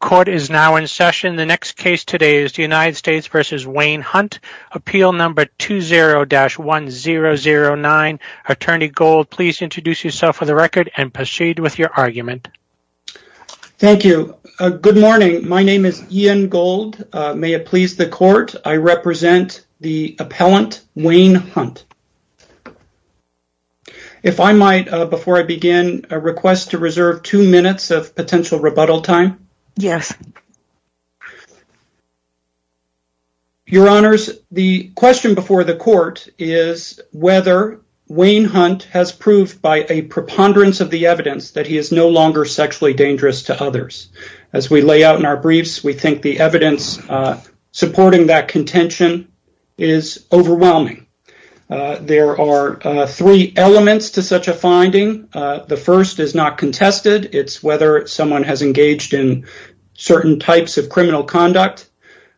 Court is now in session. The next case today is the United States v. Wayne Hunt, appeal number 20-1009. Attorney Gold, please introduce yourself for the record and proceed with your argument. Thank you. Good morning. My name is Ian Gold. May it please the court, I represent the appellant, Wayne Hunt. If I might, before I begin, request to reserve two minutes of potential rebuttal time? Yes. Your honors, the question before the court is whether Wayne Hunt has proved by a preponderance of the evidence that he is no longer sexually dangerous to others. As we lay out in our briefs, we think the evidence supporting that contention is overwhelming. There are three elements to such a finding. The first is not contested, it's whether someone has engaged in certain types of criminal conduct.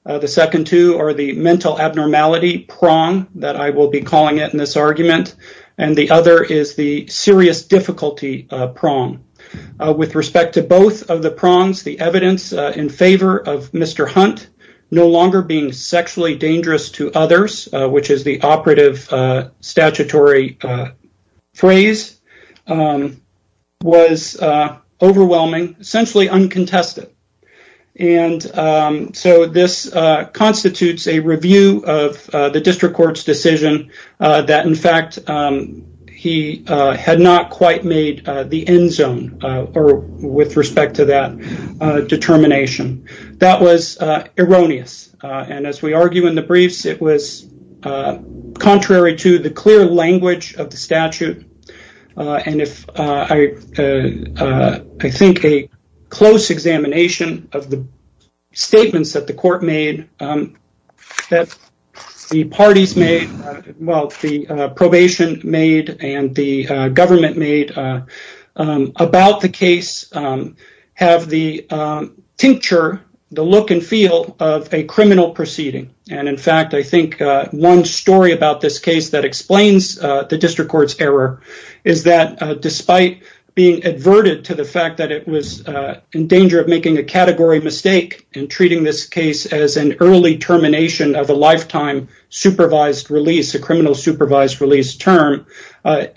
The second two are the mental abnormality prong that I will be calling it in this argument, and the other is the serious difficulty prong. With respect to both of the prongs, the evidence in favor of Mr. Hunt no longer being sexually dangerous to others, which is the operative statutory phrase, was overwhelming, essentially uncontested. This constitutes a review of the district court's decision that, in fact, he had not quite made the end zone with respect to that determination. That was erroneous. As we argue in the briefs, it was contrary to the clear language of the statute. I think a close examination of the statements that the court made, that the parties made, the probation made, and the government made about the case have the tincture, the look and feel of a criminal proceeding. In fact, I think one story about this case that explains the district court's error is that despite being adverted to the fact that it was in danger of making a category mistake in treating this case as an early termination of a lifetime supervised release, a criminal supervised release term, when,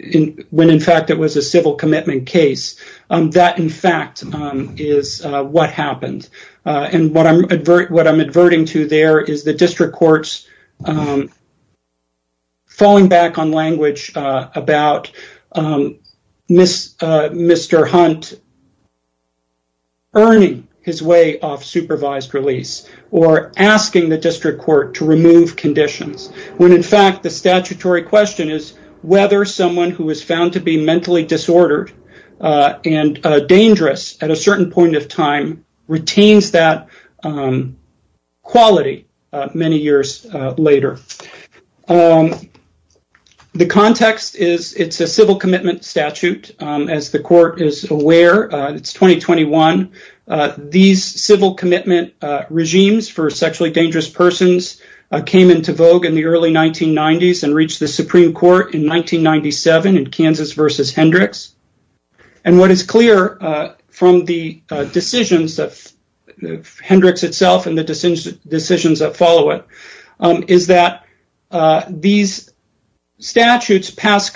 in fact, it was a civil commitment case, that, in fact, is what happened. What I'm adverting to there is the district court's falling back on language about Mr. Hunt earning his way off supervised release or asking the district court to remove conditions, when, in fact, the statutory question is whether someone who was found to be mentally disordered and dangerous at a certain point of time retains that quality many years later. The context is it's a civil commitment statute, as the court is aware. It's 2021. These civil commitments were passed in the early 1990s and reached the Supreme Court in 1997 in Kansas versus Hendricks. What is clear from the decisions of Hendricks itself and the decisions that follow it is that these statutes pass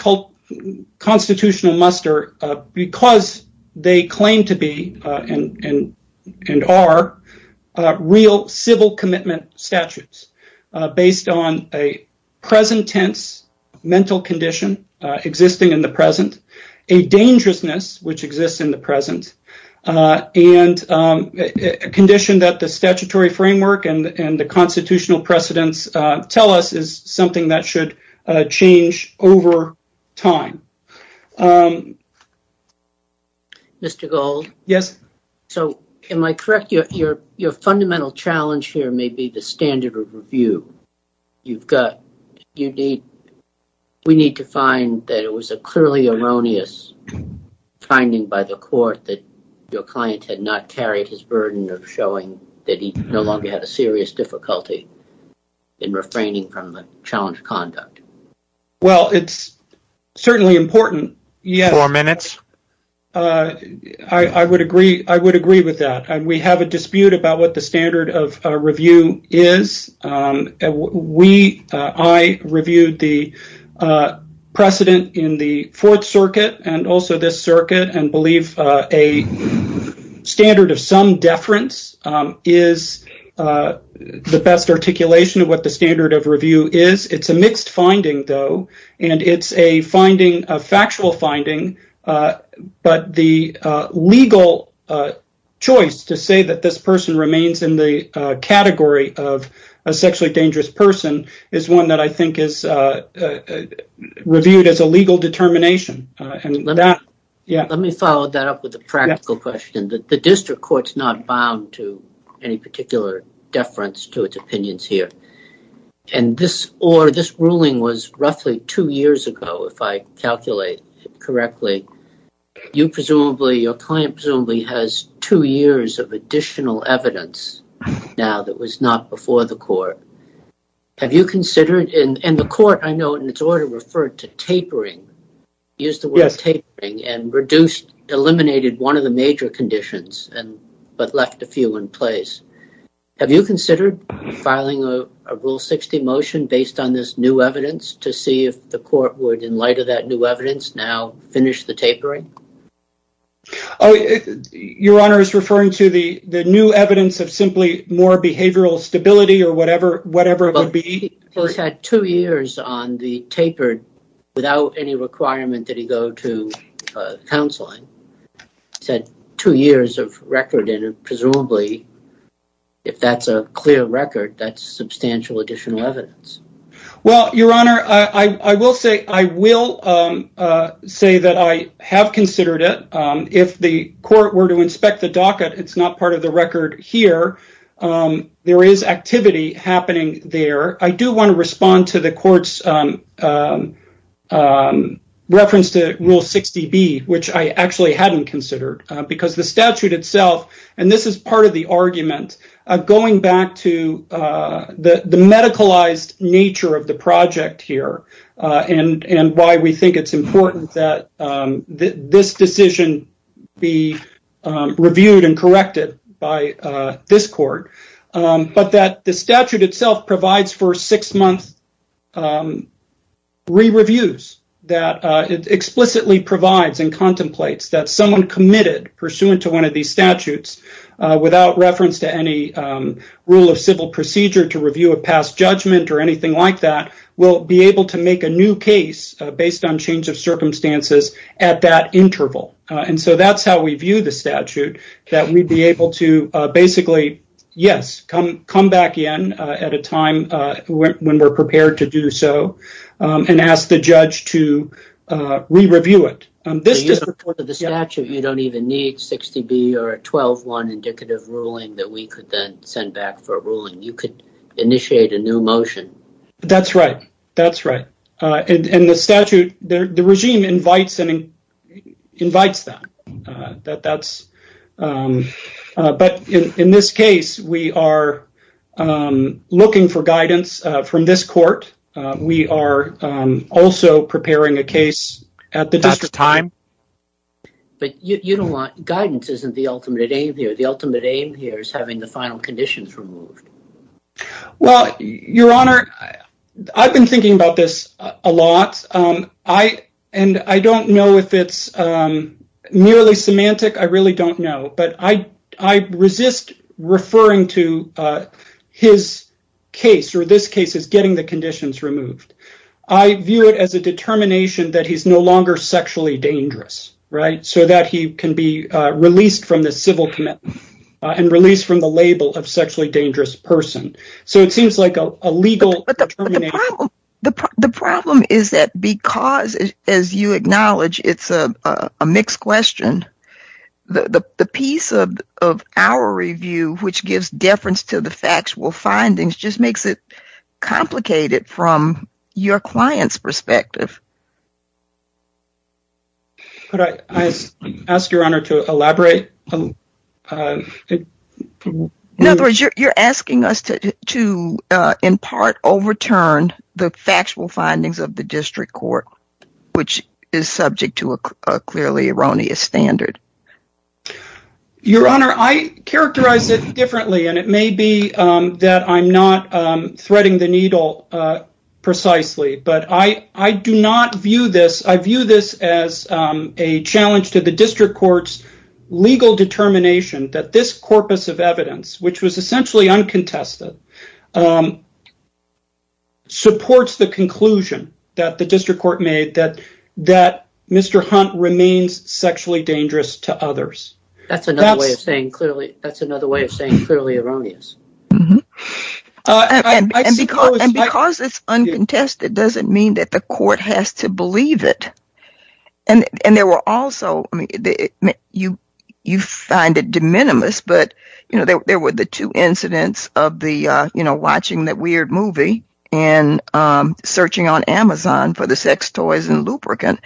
constitutional muster because they claim to be and are real civil commitment statutes based on a present tense mental condition existing in the present, a dangerousness which exists in the present, and a condition that the statutory framework and the constitutional precedents tell us is something that should change over time. Mr. Gold, am I correct? Your fundamental challenge here may be the standard of review. We need to find that it was a clearly erroneous finding by the court that your client had not carried his burden of showing that he no longer had a serious difficulty in refraining from the conduct. It's certainly important. Four minutes. I would agree with that. We have a dispute about what the standard of review is. I reviewed the precedent in the Fourth Circuit and also this circuit and believe a standard of some deference is the best articulation of what the standard of finding is. It's a mixed finding, though, and it's a factual finding, but the legal choice to say that this person remains in the category of a sexually dangerous person is one that I think is reviewed as a legal determination. Let me follow that up with a practical question. The district court is bound to any particular deference to its opinions here. This ruling was roughly two years ago, if I calculate correctly. Your client presumably has two years of additional evidence now that was not before the court. The court, I know, in its order referred to tapering and eliminated one of the major conditions, but left a few in place. Have you considered filing a Rule 60 motion based on this new evidence to see if the court would, in light of that new evidence, now finish the tapering? Your Honor is referring to the new evidence of simply more behavioral stability or whatever it would be? He had two years on the tapered without any requirement that he go to a counseling. He said two years of record, and presumably, if that's a clear record, that's substantial additional evidence. Well, Your Honor, I will say that I have considered it. If the court were to inspect the docket, it's not part of the record here. There is activity happening there. I do want to respond to the court's reference to Rule 60B, which I actually hadn't considered because the statute itself, and this is part of the argument, going back to the medicalized nature of the project here and why we think it's important that this decision be reviewed and corrected by this court, but that the statute itself provides for six-month re-reviews. It explicitly provides and contemplates that someone committed, pursuant to one of these statutes, without reference to any rule of civil procedure to review a past judgment or anything like that, will be able to make a new case based on change circumstances at that interval. That's how we view the statute, that we'd be able to basically, yes, come back in at a time when we're prepared to do so and ask the judge to re-review it. In support of the statute, you don't even need 60B or a 12-1 indicative ruling that we could then send back for a ruling. You could initiate a new motion. That's right. That's right. The statute, the regime invites that. But in this case, we are looking for guidance from this court. We are also preparing a case at the district time. But you don't want guidance isn't the ultimate aim here. The ultimate aim here is having the final conditions removed. Well, Your Honor, I've been thinking about this a lot. I don't know if it's merely semantic. I really don't know. But I resist referring to his case or this case as getting the conditions removed. I view it as a determination that he's no longer sexually dangerous, so that he can be released from the civil commitment and released from the label of sexually dangerous person. So it seems like a legal termination. The problem is that because, as you acknowledge, it's a mixed question, the piece of our review, which gives deference to the factual findings, just makes it complicated from your client's perspective. Could I ask Your Honor to elaborate? In other words, you're asking us to, in part, overturn the factual findings of the district court, which is subject to a clearly erroneous standard. Your Honor, I characterize it differently, and it may be that I'm not threading the needle precisely. I view this as a challenge to the district court's legal determination that this corpus of evidence, which was essentially uncontested, supports the conclusion that the district court made that Mr. Hunt remains sexually erroneous. And because it's uncontested doesn't mean that the court has to believe it. You find it de minimis, but there were the two incidents of watching that weird movie and searching on Amazon for the sex toys in Lubricant.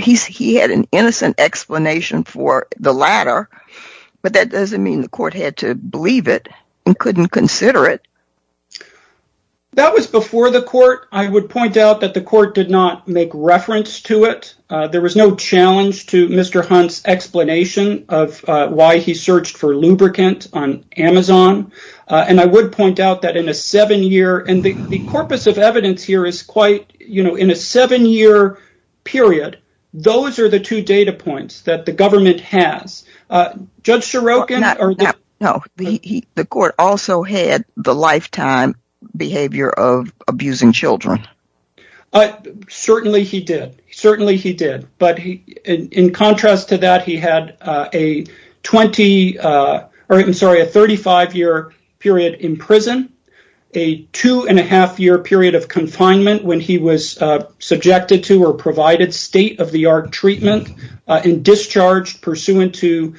He had an innocent explanation for the latter, but that doesn't mean the court had to believe it and couldn't consider it. That was before the court. I would point out that the court did not make reference to it. There was no challenge to Mr. Hunt's explanation of why he searched for Lubricant on Amazon, and I would point out that in a seven-year, and the corpus of evidence here is quite, you know, in a seven-year period, those are the two data points that the government has. Judge Ciarocan... No, the court also had the lifetime behavior of abusing children. Certainly he did. But in contrast to that, he had a 35-year period in prison, a two-and-a-half-year period of confinement when he was subjected to or provided state-of-the-art treatment and discharged pursuant to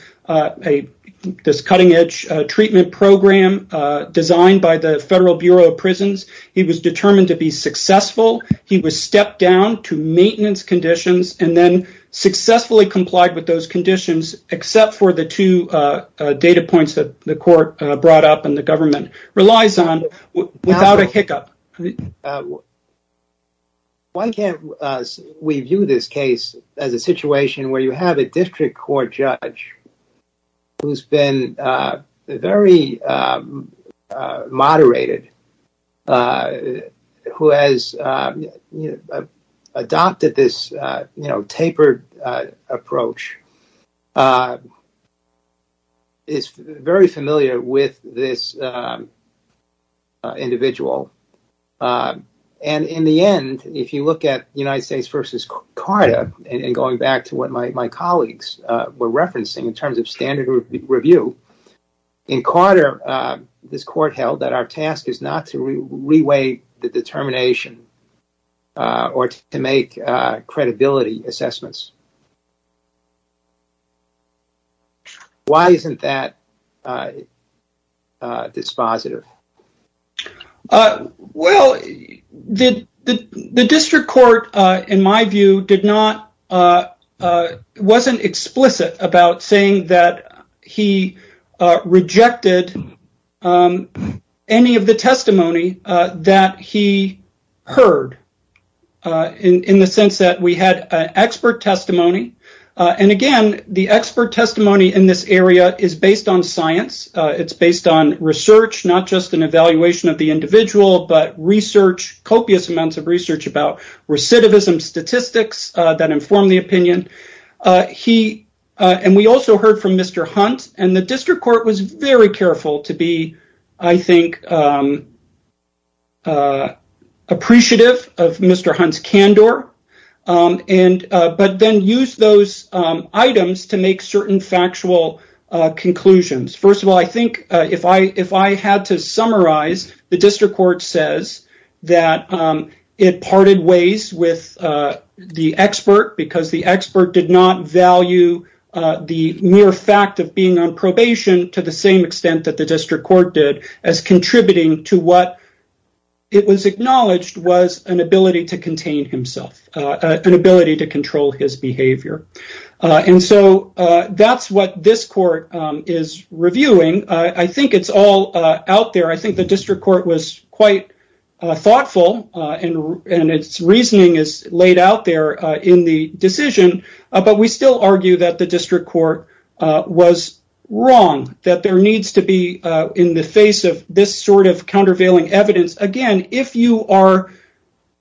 this cutting-edge treatment program designed by the Federal Bureau of Prisons. He was determined to be successful. He was stepped down to maintenance conditions and then successfully complied with those conditions, except for the two data points that the court brought up and the government relies on without a hiccup. Why can't we view this case as a situation where you have a district court judge who's been very moderated, who has adopted this, you know, tapered approach is very familiar with this individual. And in the end, if you look at United States v. Carta, and going back to what my colleagues were referencing in terms of standard review, in Carta, this court held that our task is not to re-weigh the determination or to make credibility assessments. Why isn't that dispositive? Well, the district court, in my view, wasn't explicit about saying that he rejected any of the testimony that he heard in the sense that we had expert testimony. And again, the expert testimony in this area is based on science. It's based on research, not just an evaluation of the individual, but research, copious amounts of research about recidivism statistics that inform the opinion. And we also heard from Mr. Hunt, and the district court was very careful to be, I think, appreciative of Mr. Hunt's candor. But then use those items to make certain factual conclusions. First of all, I think if I had to summarize, the district court says that it parted ways with the expert because the expert did not value the mere fact of being on probation to the same extent that the district court did as contributing to what it was acknowledged was an ability to contain himself, an ability to control his behavior. And so that's what this court is reviewing. I think it's all out there. I think the district court was quite thoughtful, and its reasoning is laid out there in the decision. But we still argue that the district court was wrong, that there needs to be in the face of this sort of countervailing evidence. Again, if you are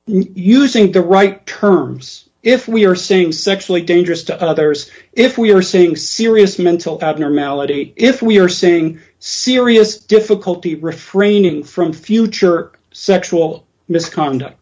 using the right terms, if we are saying sexually dangerous to others, if we are saying serious mental abnormality, if we are saying serious difficulty refraining from future sexual misconduct,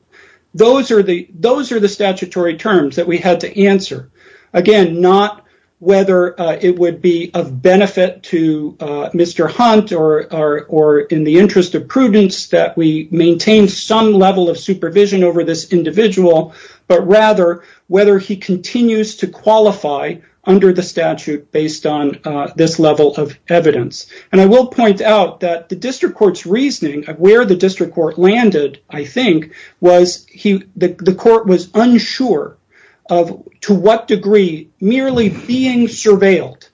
those are the statutory terms that we had to answer. Again, not whether it would be of benefit to Mr. Hunt or in the interest of prudence that we maintain some level of supervision over this individual, but rather whether he continues to qualify under the statute based on this level of evidence. And I will point out that the district court's reasoning of where the district court landed, I think, was the court was unsure of to what degree merely being surveilled,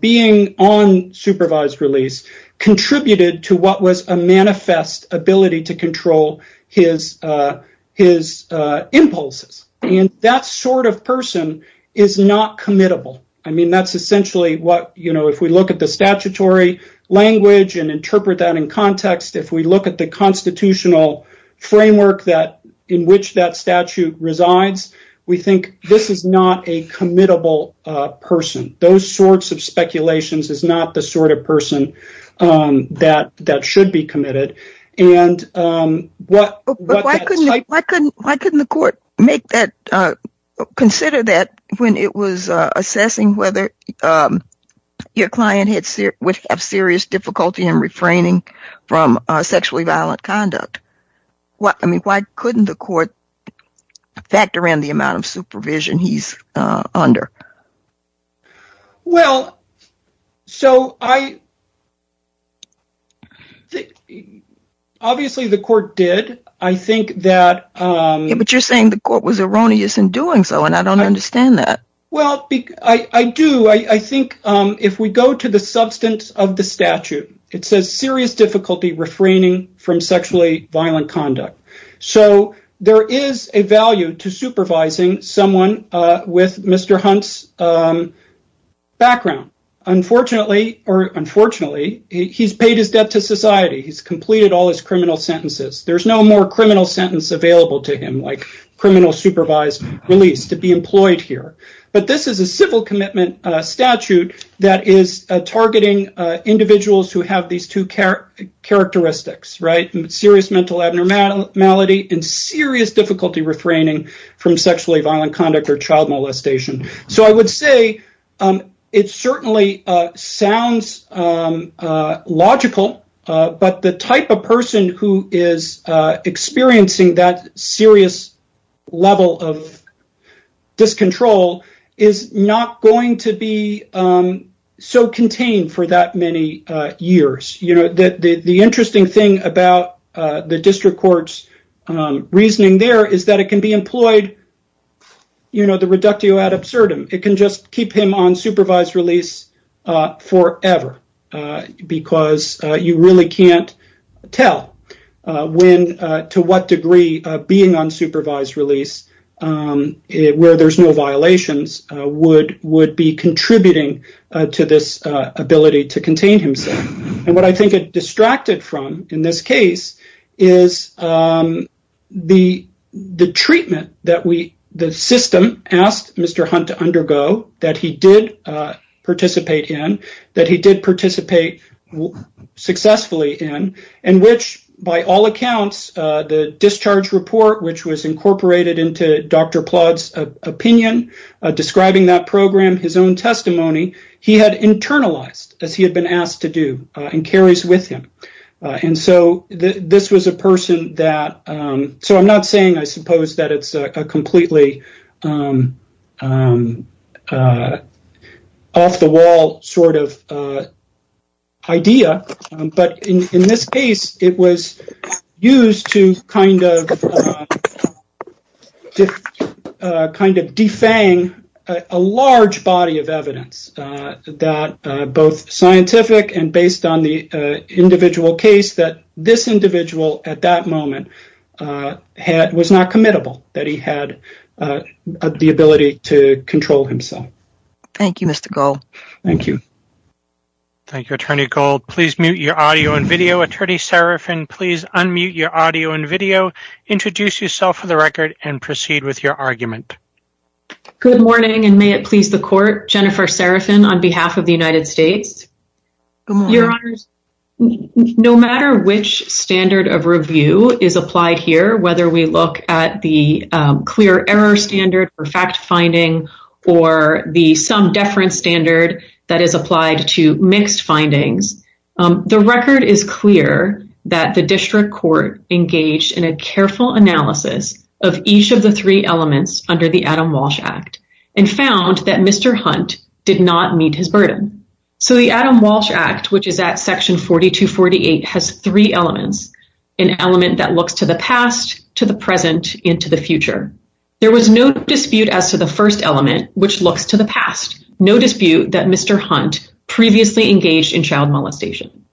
being on supervised release, contributed to what was a manifest ability to control his impulses. And that sort of person is not committable. I mean, that's essentially what, you know, if we look at the statutory language and interpret that in context, if we look at the constitutional framework that in which that statute resides, we think this is not a committable person. Those sorts of speculations is not the sort of person that should be committed. And why couldn't the court consider that when it was assessing whether your client would have serious difficulty in refraining from sexually violent conduct? I mean, why couldn't the court factor in the amount of supervision he's under? Well, so I. Obviously, the court did. I think that. But you're saying the court was erroneous in doing so, and I don't understand that. Well, I do. I think if we go to the substance of the statute, it says serious difficulty refraining from sexually violent conduct. So there is a value to supervising someone with Mr. Hunt's background. Unfortunately, or unfortunately, he's paid his debt to society. He's completed all his criminal sentences. There's no more criminal sentence available to him like criminal supervised release to be employed here. But this is a civil commitment statute that is targeting individuals who have these two characteristics, serious mental abnormality and serious difficulty refraining from sexually violent conduct or child molestation. So I would say it certainly sounds logical, but the type of person who is experiencing that serious level of discontrol is not going to be so contained for that many years. The interesting thing about the district court's reasoning there is that it can be employed, you know, the reductio ad absurdum. It can just keep him on supervised release forever because you really can't tell when, to what degree, being on supervised release where there's no violations would be contributing to this ability to contain himself. And what I think it distracted from in this case is the treatment that the system asked Mr. Hunt to undergo, that he did participate in, that he did participate successfully in, in which, by all accounts, the discharge report which was incorporated into Dr. Plod's opinion describing that program, his own testimony, he had internalized as he had been asked to do and carries with him. And so this was a person that, so I'm not saying I completely off the wall sort of idea, but in this case, it was used to kind of defang a large body of evidence that both scientific and based on the individual case that this individual at that moment was not committable, that he had the ability to control himself. Thank you, Mr. Gold. Thank you. Thank you, Attorney Gold. Please mute your audio and video. Attorney Serafin, please unmute your audio and video. Introduce yourself for the record and proceed with your argument. Good morning and may it please the court, Jennifer Serafin on behalf of the United States. Your honors, no matter which standard of review is applied here, whether we look at the clear error standard for fact finding or the some deference standard that is applied to mixed findings, the record is clear that the district court engaged in a careful analysis of each of the three elements under the Adam Walsh Act and found that Mr. Hunt did not meet his burden. So, the Adam Walsh Act, which is at section 4248, has three elements. An element that looks to the past, to the present, and to the future. There was no dispute as to the first element, which looks to the past. No dispute that Mr. Hunt previously engaged in child molestation.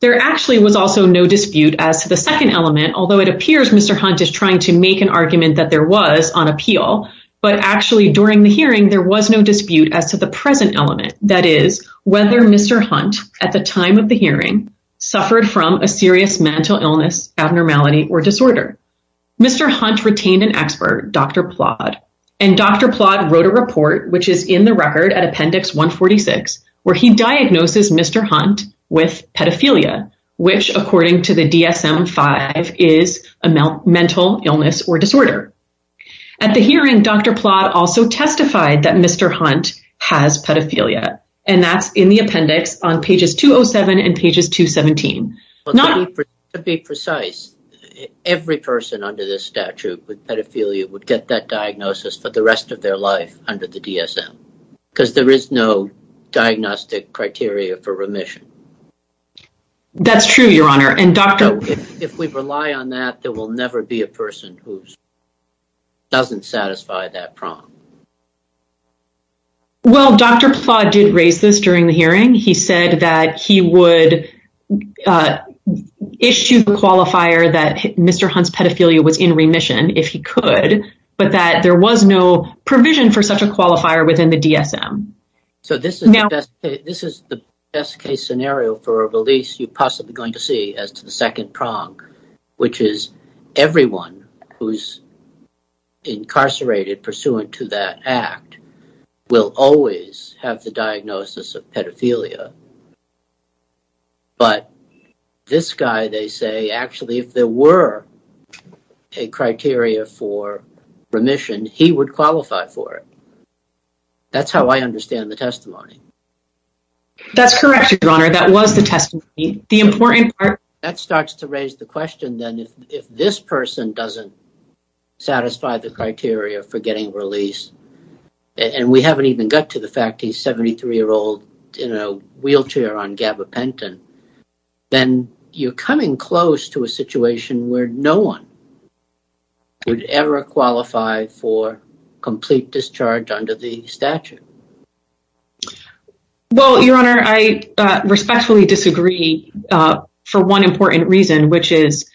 There actually was also no dispute as to the second element, although it appears Mr. Hunt is trying to make an argument that there was on appeal, but actually during the hearing, there was no dispute as to the present element, that is, whether Mr. Hunt at the time of the hearing suffered from a serious mental illness, abnormality, or disorder. Mr. Hunt retained an expert, Dr. Plodd, and Dr. Plodd wrote a report, which is in the record at appendix 146, where he diagnoses Mr. Hunt with pedophilia, which according to the DSM-5 is a mental illness or disorder. At the hearing, Dr. Plodd also testified that Mr. Hunt has pedophilia, and that's in the appendix on pages 207 and pages 217. To be precise, every person under this statute with pedophilia would get that diagnosis for the rest of their life under the DSM, because there is no diagnostic criteria for remission. That's true, Your Honor, and Dr. If we rely on that, there will never be a person who doesn't satisfy that prong. Well, Dr. Plodd did raise this during the hearing. He said that he would issue the qualifier that Mr. Hunt's pedophilia was in remission, if he could, but that there was no provision for such a qualifier within the DSM. So this is the best case scenario for a as to the second prong, which is everyone who's incarcerated pursuant to that act will always have the diagnosis of pedophilia. But this guy, they say, actually, if there were a criteria for remission, he would qualify for it. That's how I understand the testimony. That's correct, Your Honor. That was the testimony. The important part... If that starts to raise the question, then if this person doesn't satisfy the criteria for getting released, and we haven't even got to the fact he's a 73-year-old in a wheelchair on gabapentin, then you're coming close to a situation where no one would ever qualify for complete discharge under the statute. Well, Your Honor, I respectfully disagree for one important reason, which is,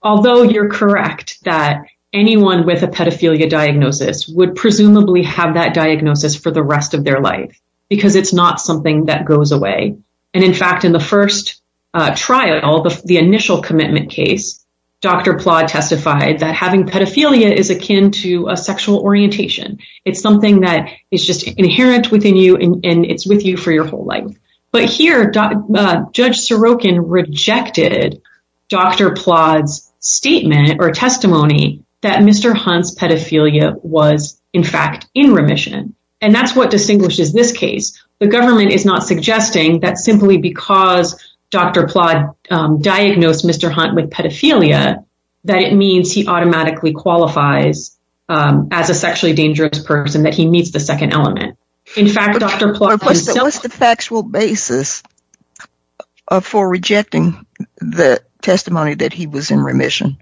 although you're correct that anyone with a pedophilia diagnosis would presumably have that diagnosis for the rest of their life, because it's not something that goes away. And in fact, in the first trial, the initial commitment case, Dr. Plodd testified that pedophilia is akin to a sexual orientation. It's something that is just inherent within you, and it's with you for your whole life. But here, Judge Sorokin rejected Dr. Plodd's statement or testimony that Mr. Hunt's pedophilia was, in fact, in remission. And that's what distinguishes this case. The government is not suggesting that simply because Dr. Plodd diagnosed Mr. Hunt with pedophilia, that it means he automatically qualifies as a sexually dangerous person, that he meets the second element. In fact, Dr. Plodd himself- What's the factual basis for rejecting the testimony that he was in remission?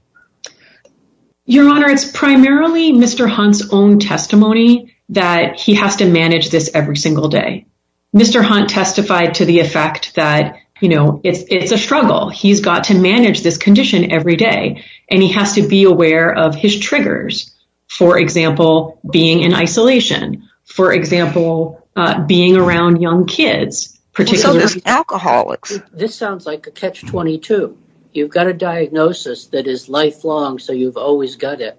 Your Honor, it's primarily Mr. Hunt's own testimony that he has to manage this every single day. Mr. Hunt testified to the effect that it's a struggle. He's got to manage this condition every day, and he has to be aware of his triggers. For example, being in isolation, for example, being around young kids, particularly- Well, so does alcoholics. This sounds like a catch-22. You've got a diagnosis that is lifelong, so you've always got it.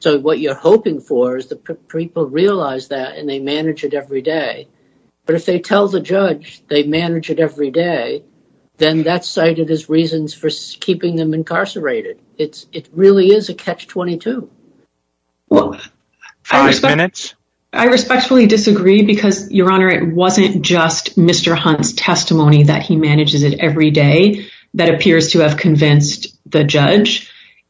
So what you're hoping for is that people realize that and they manage it every day. But if they tell the judge they manage it every day, then that's cited as reasons for keeping them incarcerated. It really is a catch-22. Five minutes. I respectfully disagree because, Your Honor, it wasn't just Mr. Hunt's testimony that he was in remission.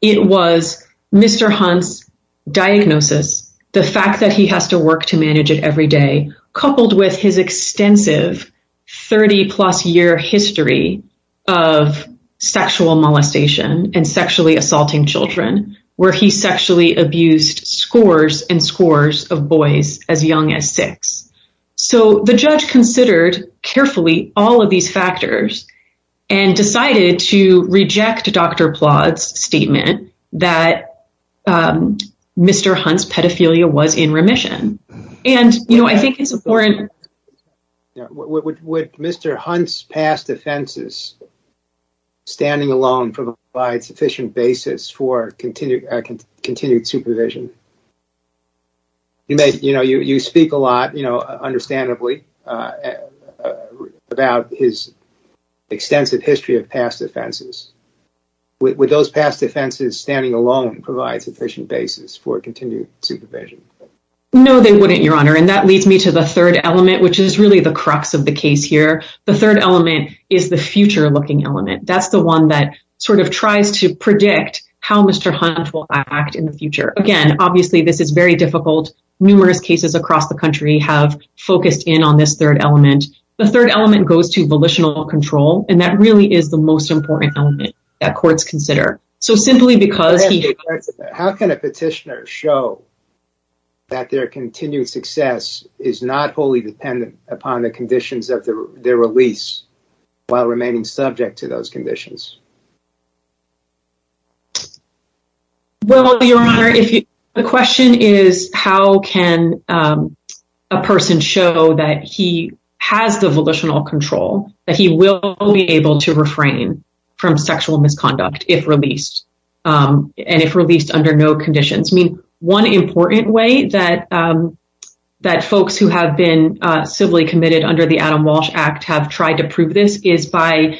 It was Mr. Hunt's diagnosis, the fact that he has to work to manage it every day, coupled with his extensive 30-plus-year history of sexual molestation and sexually assaulting children, where he sexually abused scores and scores of boys as young as six. So the judge considered carefully all of these factors and decided to reject Dr. Plodd's that Mr. Hunt's pedophilia was in remission. Would Mr. Hunt's past offenses standing alone provide sufficient basis for continued supervision? You speak a lot, understandably, about his extensive history of past offenses. Would those past offenses standing alone provide sufficient basis for continued supervision? No, they wouldn't, Your Honor. And that leads me to the third element, which is really the crux of the case here. The third element is the future-looking element. That's the one that sort of tries to predict how Mr. Hunt will act in the future. Again, obviously, this is very difficult. Numerous cases across the country have focused in on this third element. The third element goes to volitional control, and that really is the most important element that courts consider. How can a petitioner show that their continued success is not wholly dependent upon the conditions of their release while remaining subject to those conditions? Well, Your Honor, the question is how can a person show that he has the volitional control, that he will be able to refrain from sexual misconduct if released, and if released under no conditions? One important way that folks who have been civilly committed under the Adam Walsh Act have tried to prove this is by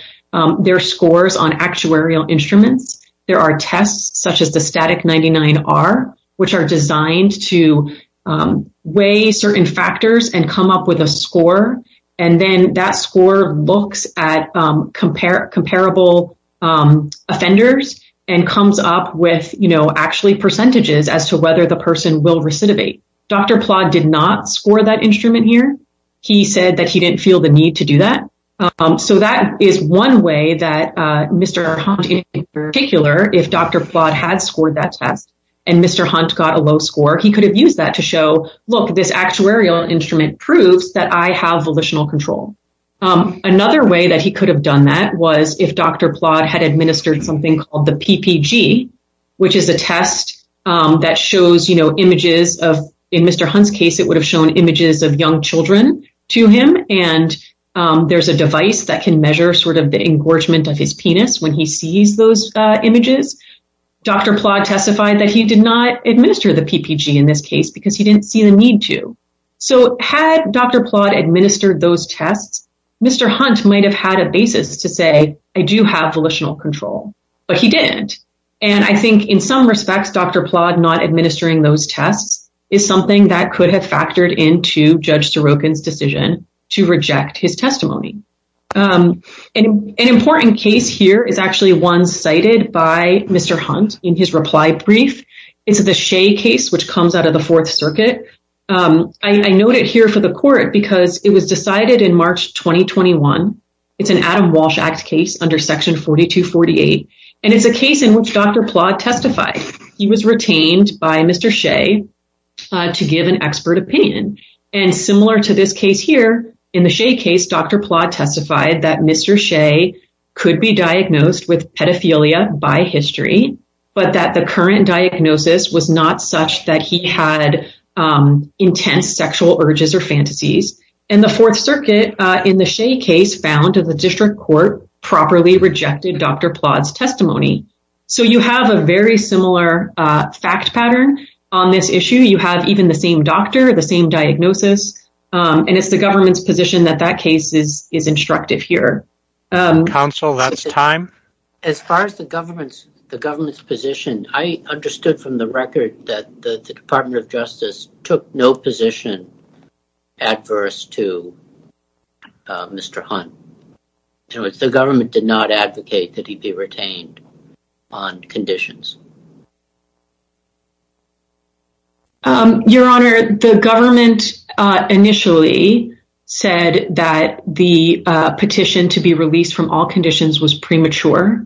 their scores on actuarial instruments. There are tests, such as the Static 99-R, which are designed to weigh certain factors and come up with a score, and then that score looks at comparable offenders and comes up with actually percentages as to whether the person will recidivate. Dr. Plodd did not score that instrument here. He said that he didn't feel the need to do that. That is one way that Mr. Hunt, in particular, if Dr. Plodd had scored that test and Mr. Hunt got a low score, he could have used that to show, look, this actuarial instrument proves that I have volitional control. Another way that he could have done that was if Dr. Plodd had administered something called the PPG, which is a test that shows images of, in Mr. Hunt's case, it would have shown images of young children to him, and there's a device that can measure sort of the engorgement of his penis when he sees those images. Dr. Plodd testified that he did not administer the PPG in this case because he didn't see the need to. So, had Dr. Plodd administered those tests, Mr. Hunt might have had a basis to say, I do have volitional control, but he didn't. And I think in some respects, Dr. Plodd not administering those tests is something that could have factored into Judge Sorokin's decision to reject his testimony. An important case here is actually one cited by Mr. Hunt in his reply brief. It's the Shea case, which comes out of the Fourth Circuit. I noted here for the court because it was decided in March 2021. It's an Adam Walsh Act case under Section 4248. And it's a case in which Dr. Plodd testified. He was retained by Mr. Shea to give an expert opinion. And similar to this case here, in the Shea case, Dr. Plodd testified that Mr. Shea could be diagnosed with pedophilia by history, but that the current diagnosis was not such that he had intense sexual urges or fantasies. And the Fourth Circuit in the Shea case found that the district court properly rejected Dr. Plodd's testimony. So, you have a very similar fact pattern on this issue. You have even the same doctor, the same diagnosis, and it's the government's position that that case is instructive here. Counsel, that's time. As far as the government's position, I understood from the record that the Department of Justice took no position adverse to Mr. Hunt. The government did not advocate that he be retained on conditions. Your Honor, the government initially said that the petition to be released from all conditions was premature.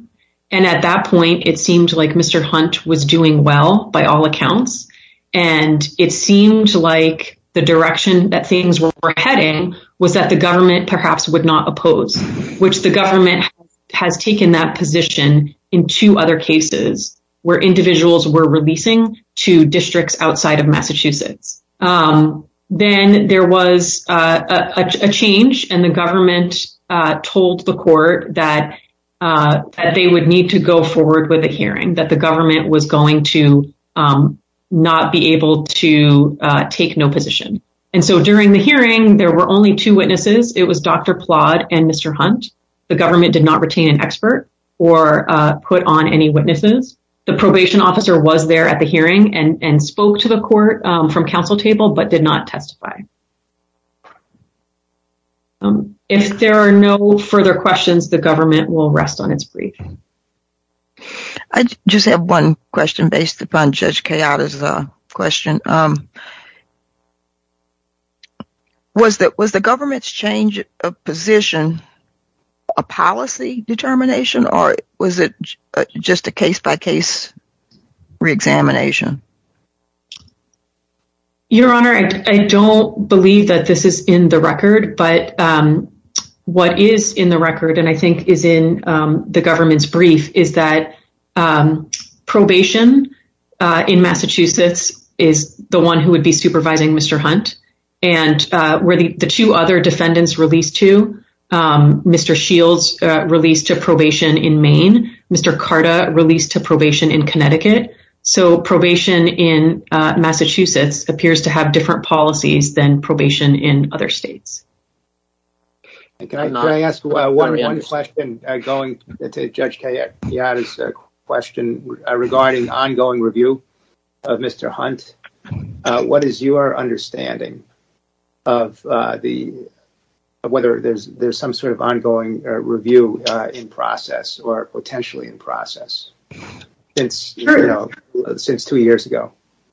And at that point, it seemed like Mr. Hunt was doing well by all accounts. And it seemed like the direction that things were heading was that the government perhaps would not oppose, which the government has taken that position in two other cases. And I'm not sure if that's correct, but that was a case where individuals were releasing to districts outside of Massachusetts. Then there was a change and the government told the court that they would need to go forward with a hearing, that the government was going to not be able to take no position. And so, during the hearing, there were only two witnesses. It was Dr. Plodd and Mr. Hunt. The government did not testify. The probation officer was there at the hearing and spoke to the court from counsel table, but did not testify. If there are no further questions, the government will rest on its brief. I just have one question based upon Judge Kayotta's question. Was the government's change of position a policy determination, or was it just a case-by-case re-examination? Your Honor, I don't believe that this is in the record, but what is in the record, and I think is in the government's brief, is that probation in Massachusetts is the one who would be supervising Mr. Hunt. And where the two other defendants released to, Mr. Shields released to probation in Maine, Mr. Carta released to probation in Connecticut. So, probation in Massachusetts appears to have different policies than probation in other states. Can I ask one question going to Judge Kayotta's question regarding ongoing review of Mr. Hunt? What is your understanding of whether there's some sort of ongoing review in process, or potentially in process, since two years ago?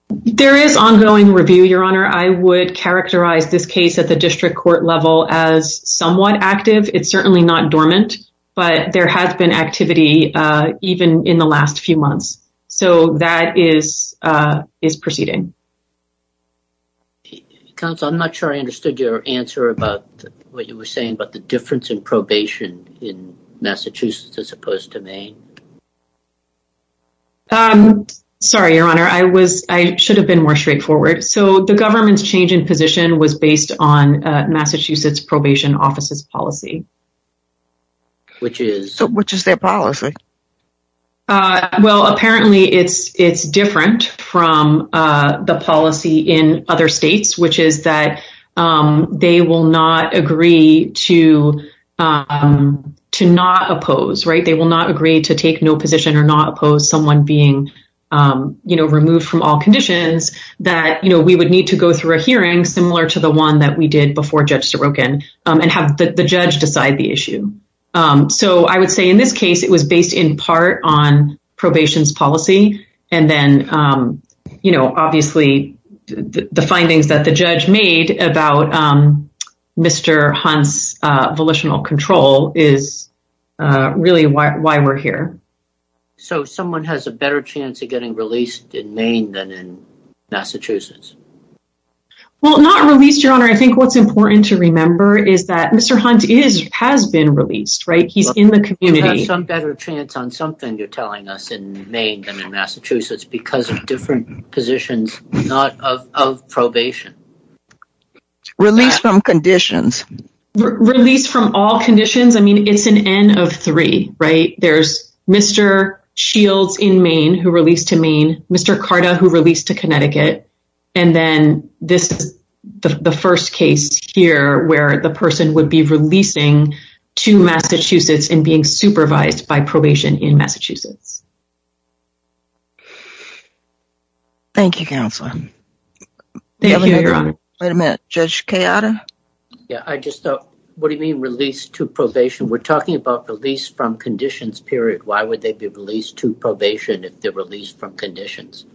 There is ongoing review, Your Honor. I would characterize this case at the district court level as somewhat active. It's certainly not dormant, but there has been activity even in the last few months. So, that is proceeding. Counsel, I'm not sure I understood your answer about what you were saying about the difference in probation in Massachusetts as opposed to Maine. Sorry, Your Honor. I should have been more straightforward. So, the government's change in position was based on Massachusetts Probation Office's policy. Which is? Which is their policy? Well, apparently, it's different from the policy in other states, which is that they will not agree to not oppose, right? They will not agree to take no position or not oppose someone being removed from all conditions, that we would need to go through a hearing similar to one that we did before Judge Sorokin, and have the judge decide the issue. So, I would say in this case, it was based in part on probation's policy. And then, you know, obviously, the findings that the judge made about Mr. Hunt's volitional control is really why we're here. So, someone has a better chance of getting released in Maine than in Massachusetts? Well, not released, Your Honor. I think what's important to remember is that Mr. Hunt is, has been released, right? He's in the community. He's had some better chance on something you're telling us in Maine than in Massachusetts because of different positions, not of probation. Released from conditions. Released from all conditions. I mean, it's an N of three, right? There's Mr. Shields in Maine, who released to Maine. Mr. Carta, who released to Connecticut. And then, this is the first case here where the person would be releasing to Massachusetts and being supervised by probation in Massachusetts. Thank you, Counselor. Thank you, Your Honor. Wait a minute. Judge Kayada? Yeah, I just thought, what do you mean released to probation? We're talking about release from probation if they're released from conditions.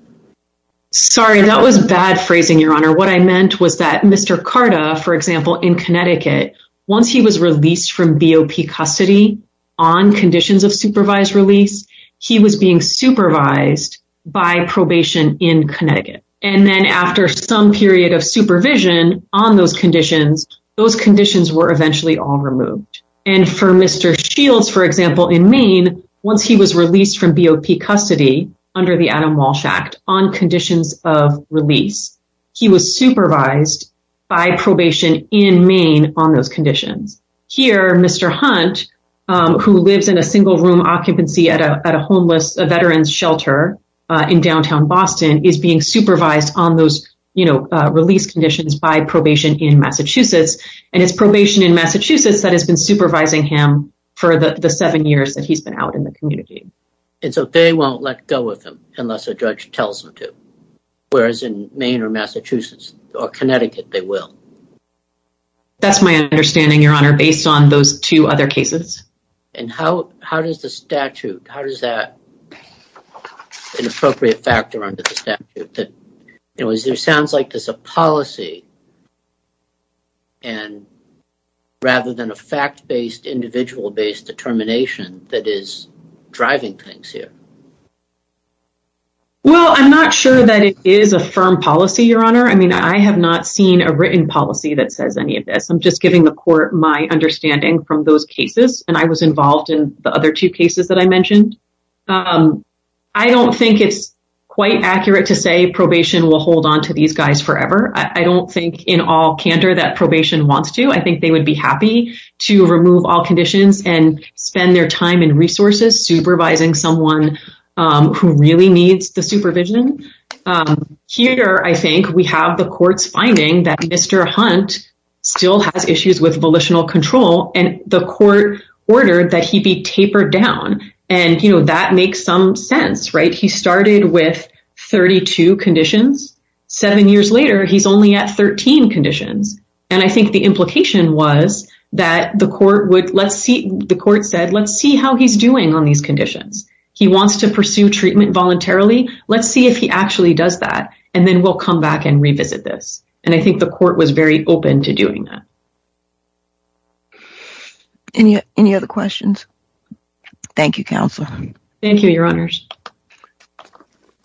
Sorry, that was bad phrasing, Your Honor. What I meant was that Mr. Carta, for example, in Connecticut, once he was released from BOP custody on conditions of supervised release, he was being supervised by probation in Connecticut. And then, after some period of supervision on those conditions, those conditions were eventually all removed. And for Mr. Shields, for example, in Maine, once he was released from BOP custody under the Adam Walsh Act on conditions of release, he was supervised by probation in Maine on those conditions. Here, Mr. Hunt, who lives in a single-room occupancy at a homeless veteran's shelter in downtown Boston, is being supervised on those release conditions by probation in Connecticut, supervising him for the seven years that he's been out in the community. And so, they won't let go of him unless a judge tells them to, whereas in Maine or Massachusetts or Connecticut, they will? That's my understanding, Your Honor, based on those two other cases. And how does the statute, how does that, an appropriate factor under the statute, it sounds like there's a policy, and rather than a fact-based, individual-based determination that is driving things here. Well, I'm not sure that it is a firm policy, Your Honor. I mean, I have not seen a written policy that says any of this. I'm just giving the court my understanding from those cases. And I was will hold on to these guys forever. I don't think in all candor that probation wants to. I think they would be happy to remove all conditions and spend their time and resources supervising someone who really needs the supervision. Here, I think we have the court's finding that Mr. Hunt still has issues with volitional control, and the court ordered that he be tapered down. And that makes some sense, right? He started with 32 conditions. Seven years later, he's only at 13 conditions. And I think the implication was that the court said, let's see how he's doing on these conditions. He wants to pursue treatment voluntarily. Let's see if he actually does that, and then we'll come back and revisit this. And I think the court was very open to doing that. Any other questions? Thank you, Counselor. Thank you, Your Honors.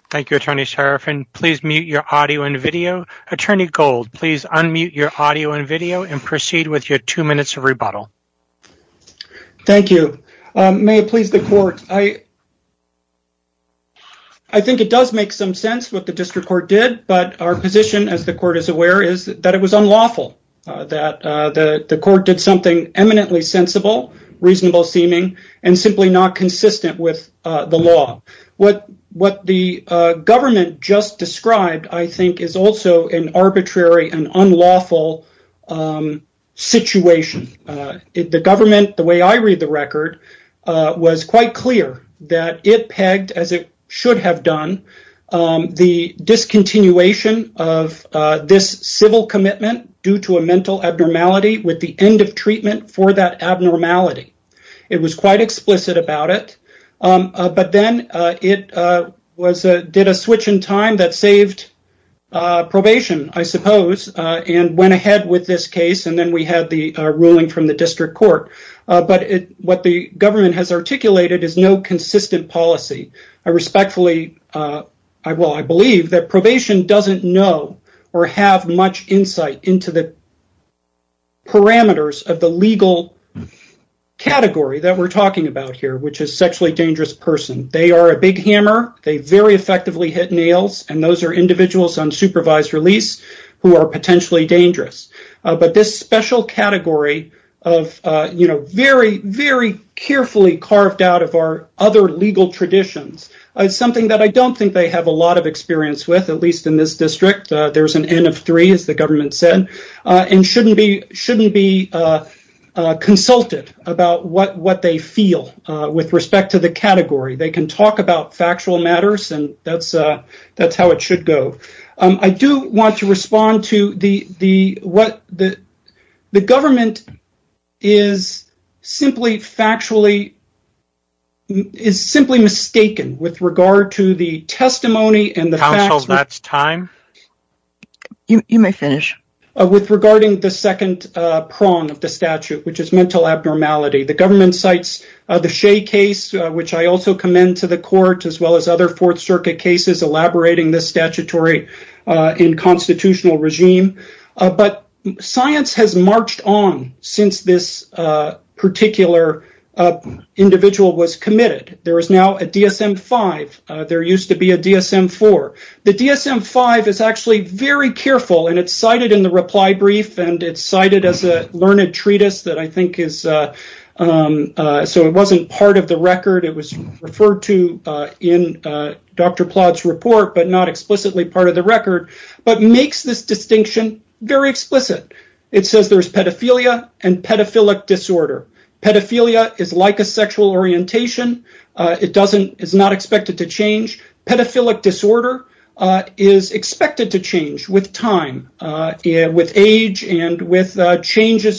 Thank you, Attorney Serafin. Please mute your audio and video. Attorney Gold, please unmute your audio and video and proceed with your two minutes of rebuttal. Thank you. May it please the court. I think it does make some sense what the district court did, but our position, as the court is aware, is that it was unlawful, that the court did something eminently sensible, reasonable-seeming, and simply not consistent with the law. What the government just described, I think, is also an arbitrary and unlawful situation. The government, the way I read the record, was quite clear that it pegged, as it was, this civil commitment due to a mental abnormality with the end of treatment for that abnormality. It was quite explicit about it, but then it did a switch in time that saved probation, I suppose, and went ahead with this case, and then we had the ruling from the district court. But what the government has articulated is no consistent policy. Respectfully, I believe that probation doesn't know or have much insight into the parameters of the legal category that we're talking about here, which is sexually dangerous person. They are a big hammer. They very effectively hit nails, and those are individuals on supervised release who are potentially dangerous. But this special category of very, carefully carved out of our other legal traditions is something that I don't think they have a lot of experience with, at least in this district. There's an N of three, as the government said, and shouldn't be consulted about what they feel with respect to the category. They can talk about factual matters, and that's how it should go. I do want to respond to the fact that the government is simply mistaken with regard to the testimony and the facts regarding the second prong of the statute, which is mental abnormality. The government cites the Shea case, which I also commend to the court, as well as other circuit cases elaborating this statutory and constitutional regime. Science has marched on since this particular individual was committed. There is now a DSM-5. There used to be a DSM-4. The DSM-5 is actually very careful. It's cited in the reply brief, and it's cited as a learned report, but not explicitly part of the record. It makes this distinction very explicit. It says there's pedophilia and pedophilic disorder. Pedophilia is like a sexual orientation. It is not expected to change. Pedophilic disorder is expected to change with time, with age, and with interchanges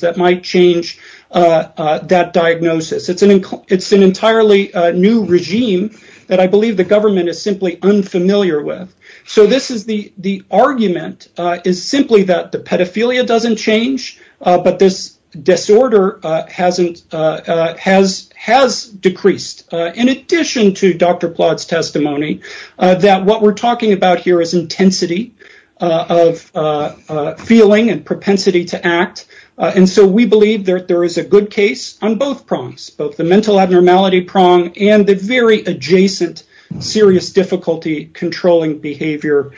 that might change that diagnosis. It's an entirely new regime that I believe the government is simply unfamiliar with. The argument is simply that the pedophilia doesn't change, but this disorder has decreased. In addition to Dr. Plodd's testimony, what we're talking about here is intensity of feeling and propensity to act. We believe there is a good case on both prongs, both the mental abnormality prong and the very adjacent serious difficulty controlling behavior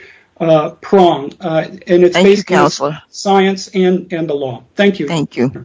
prong. It's based on science and the law.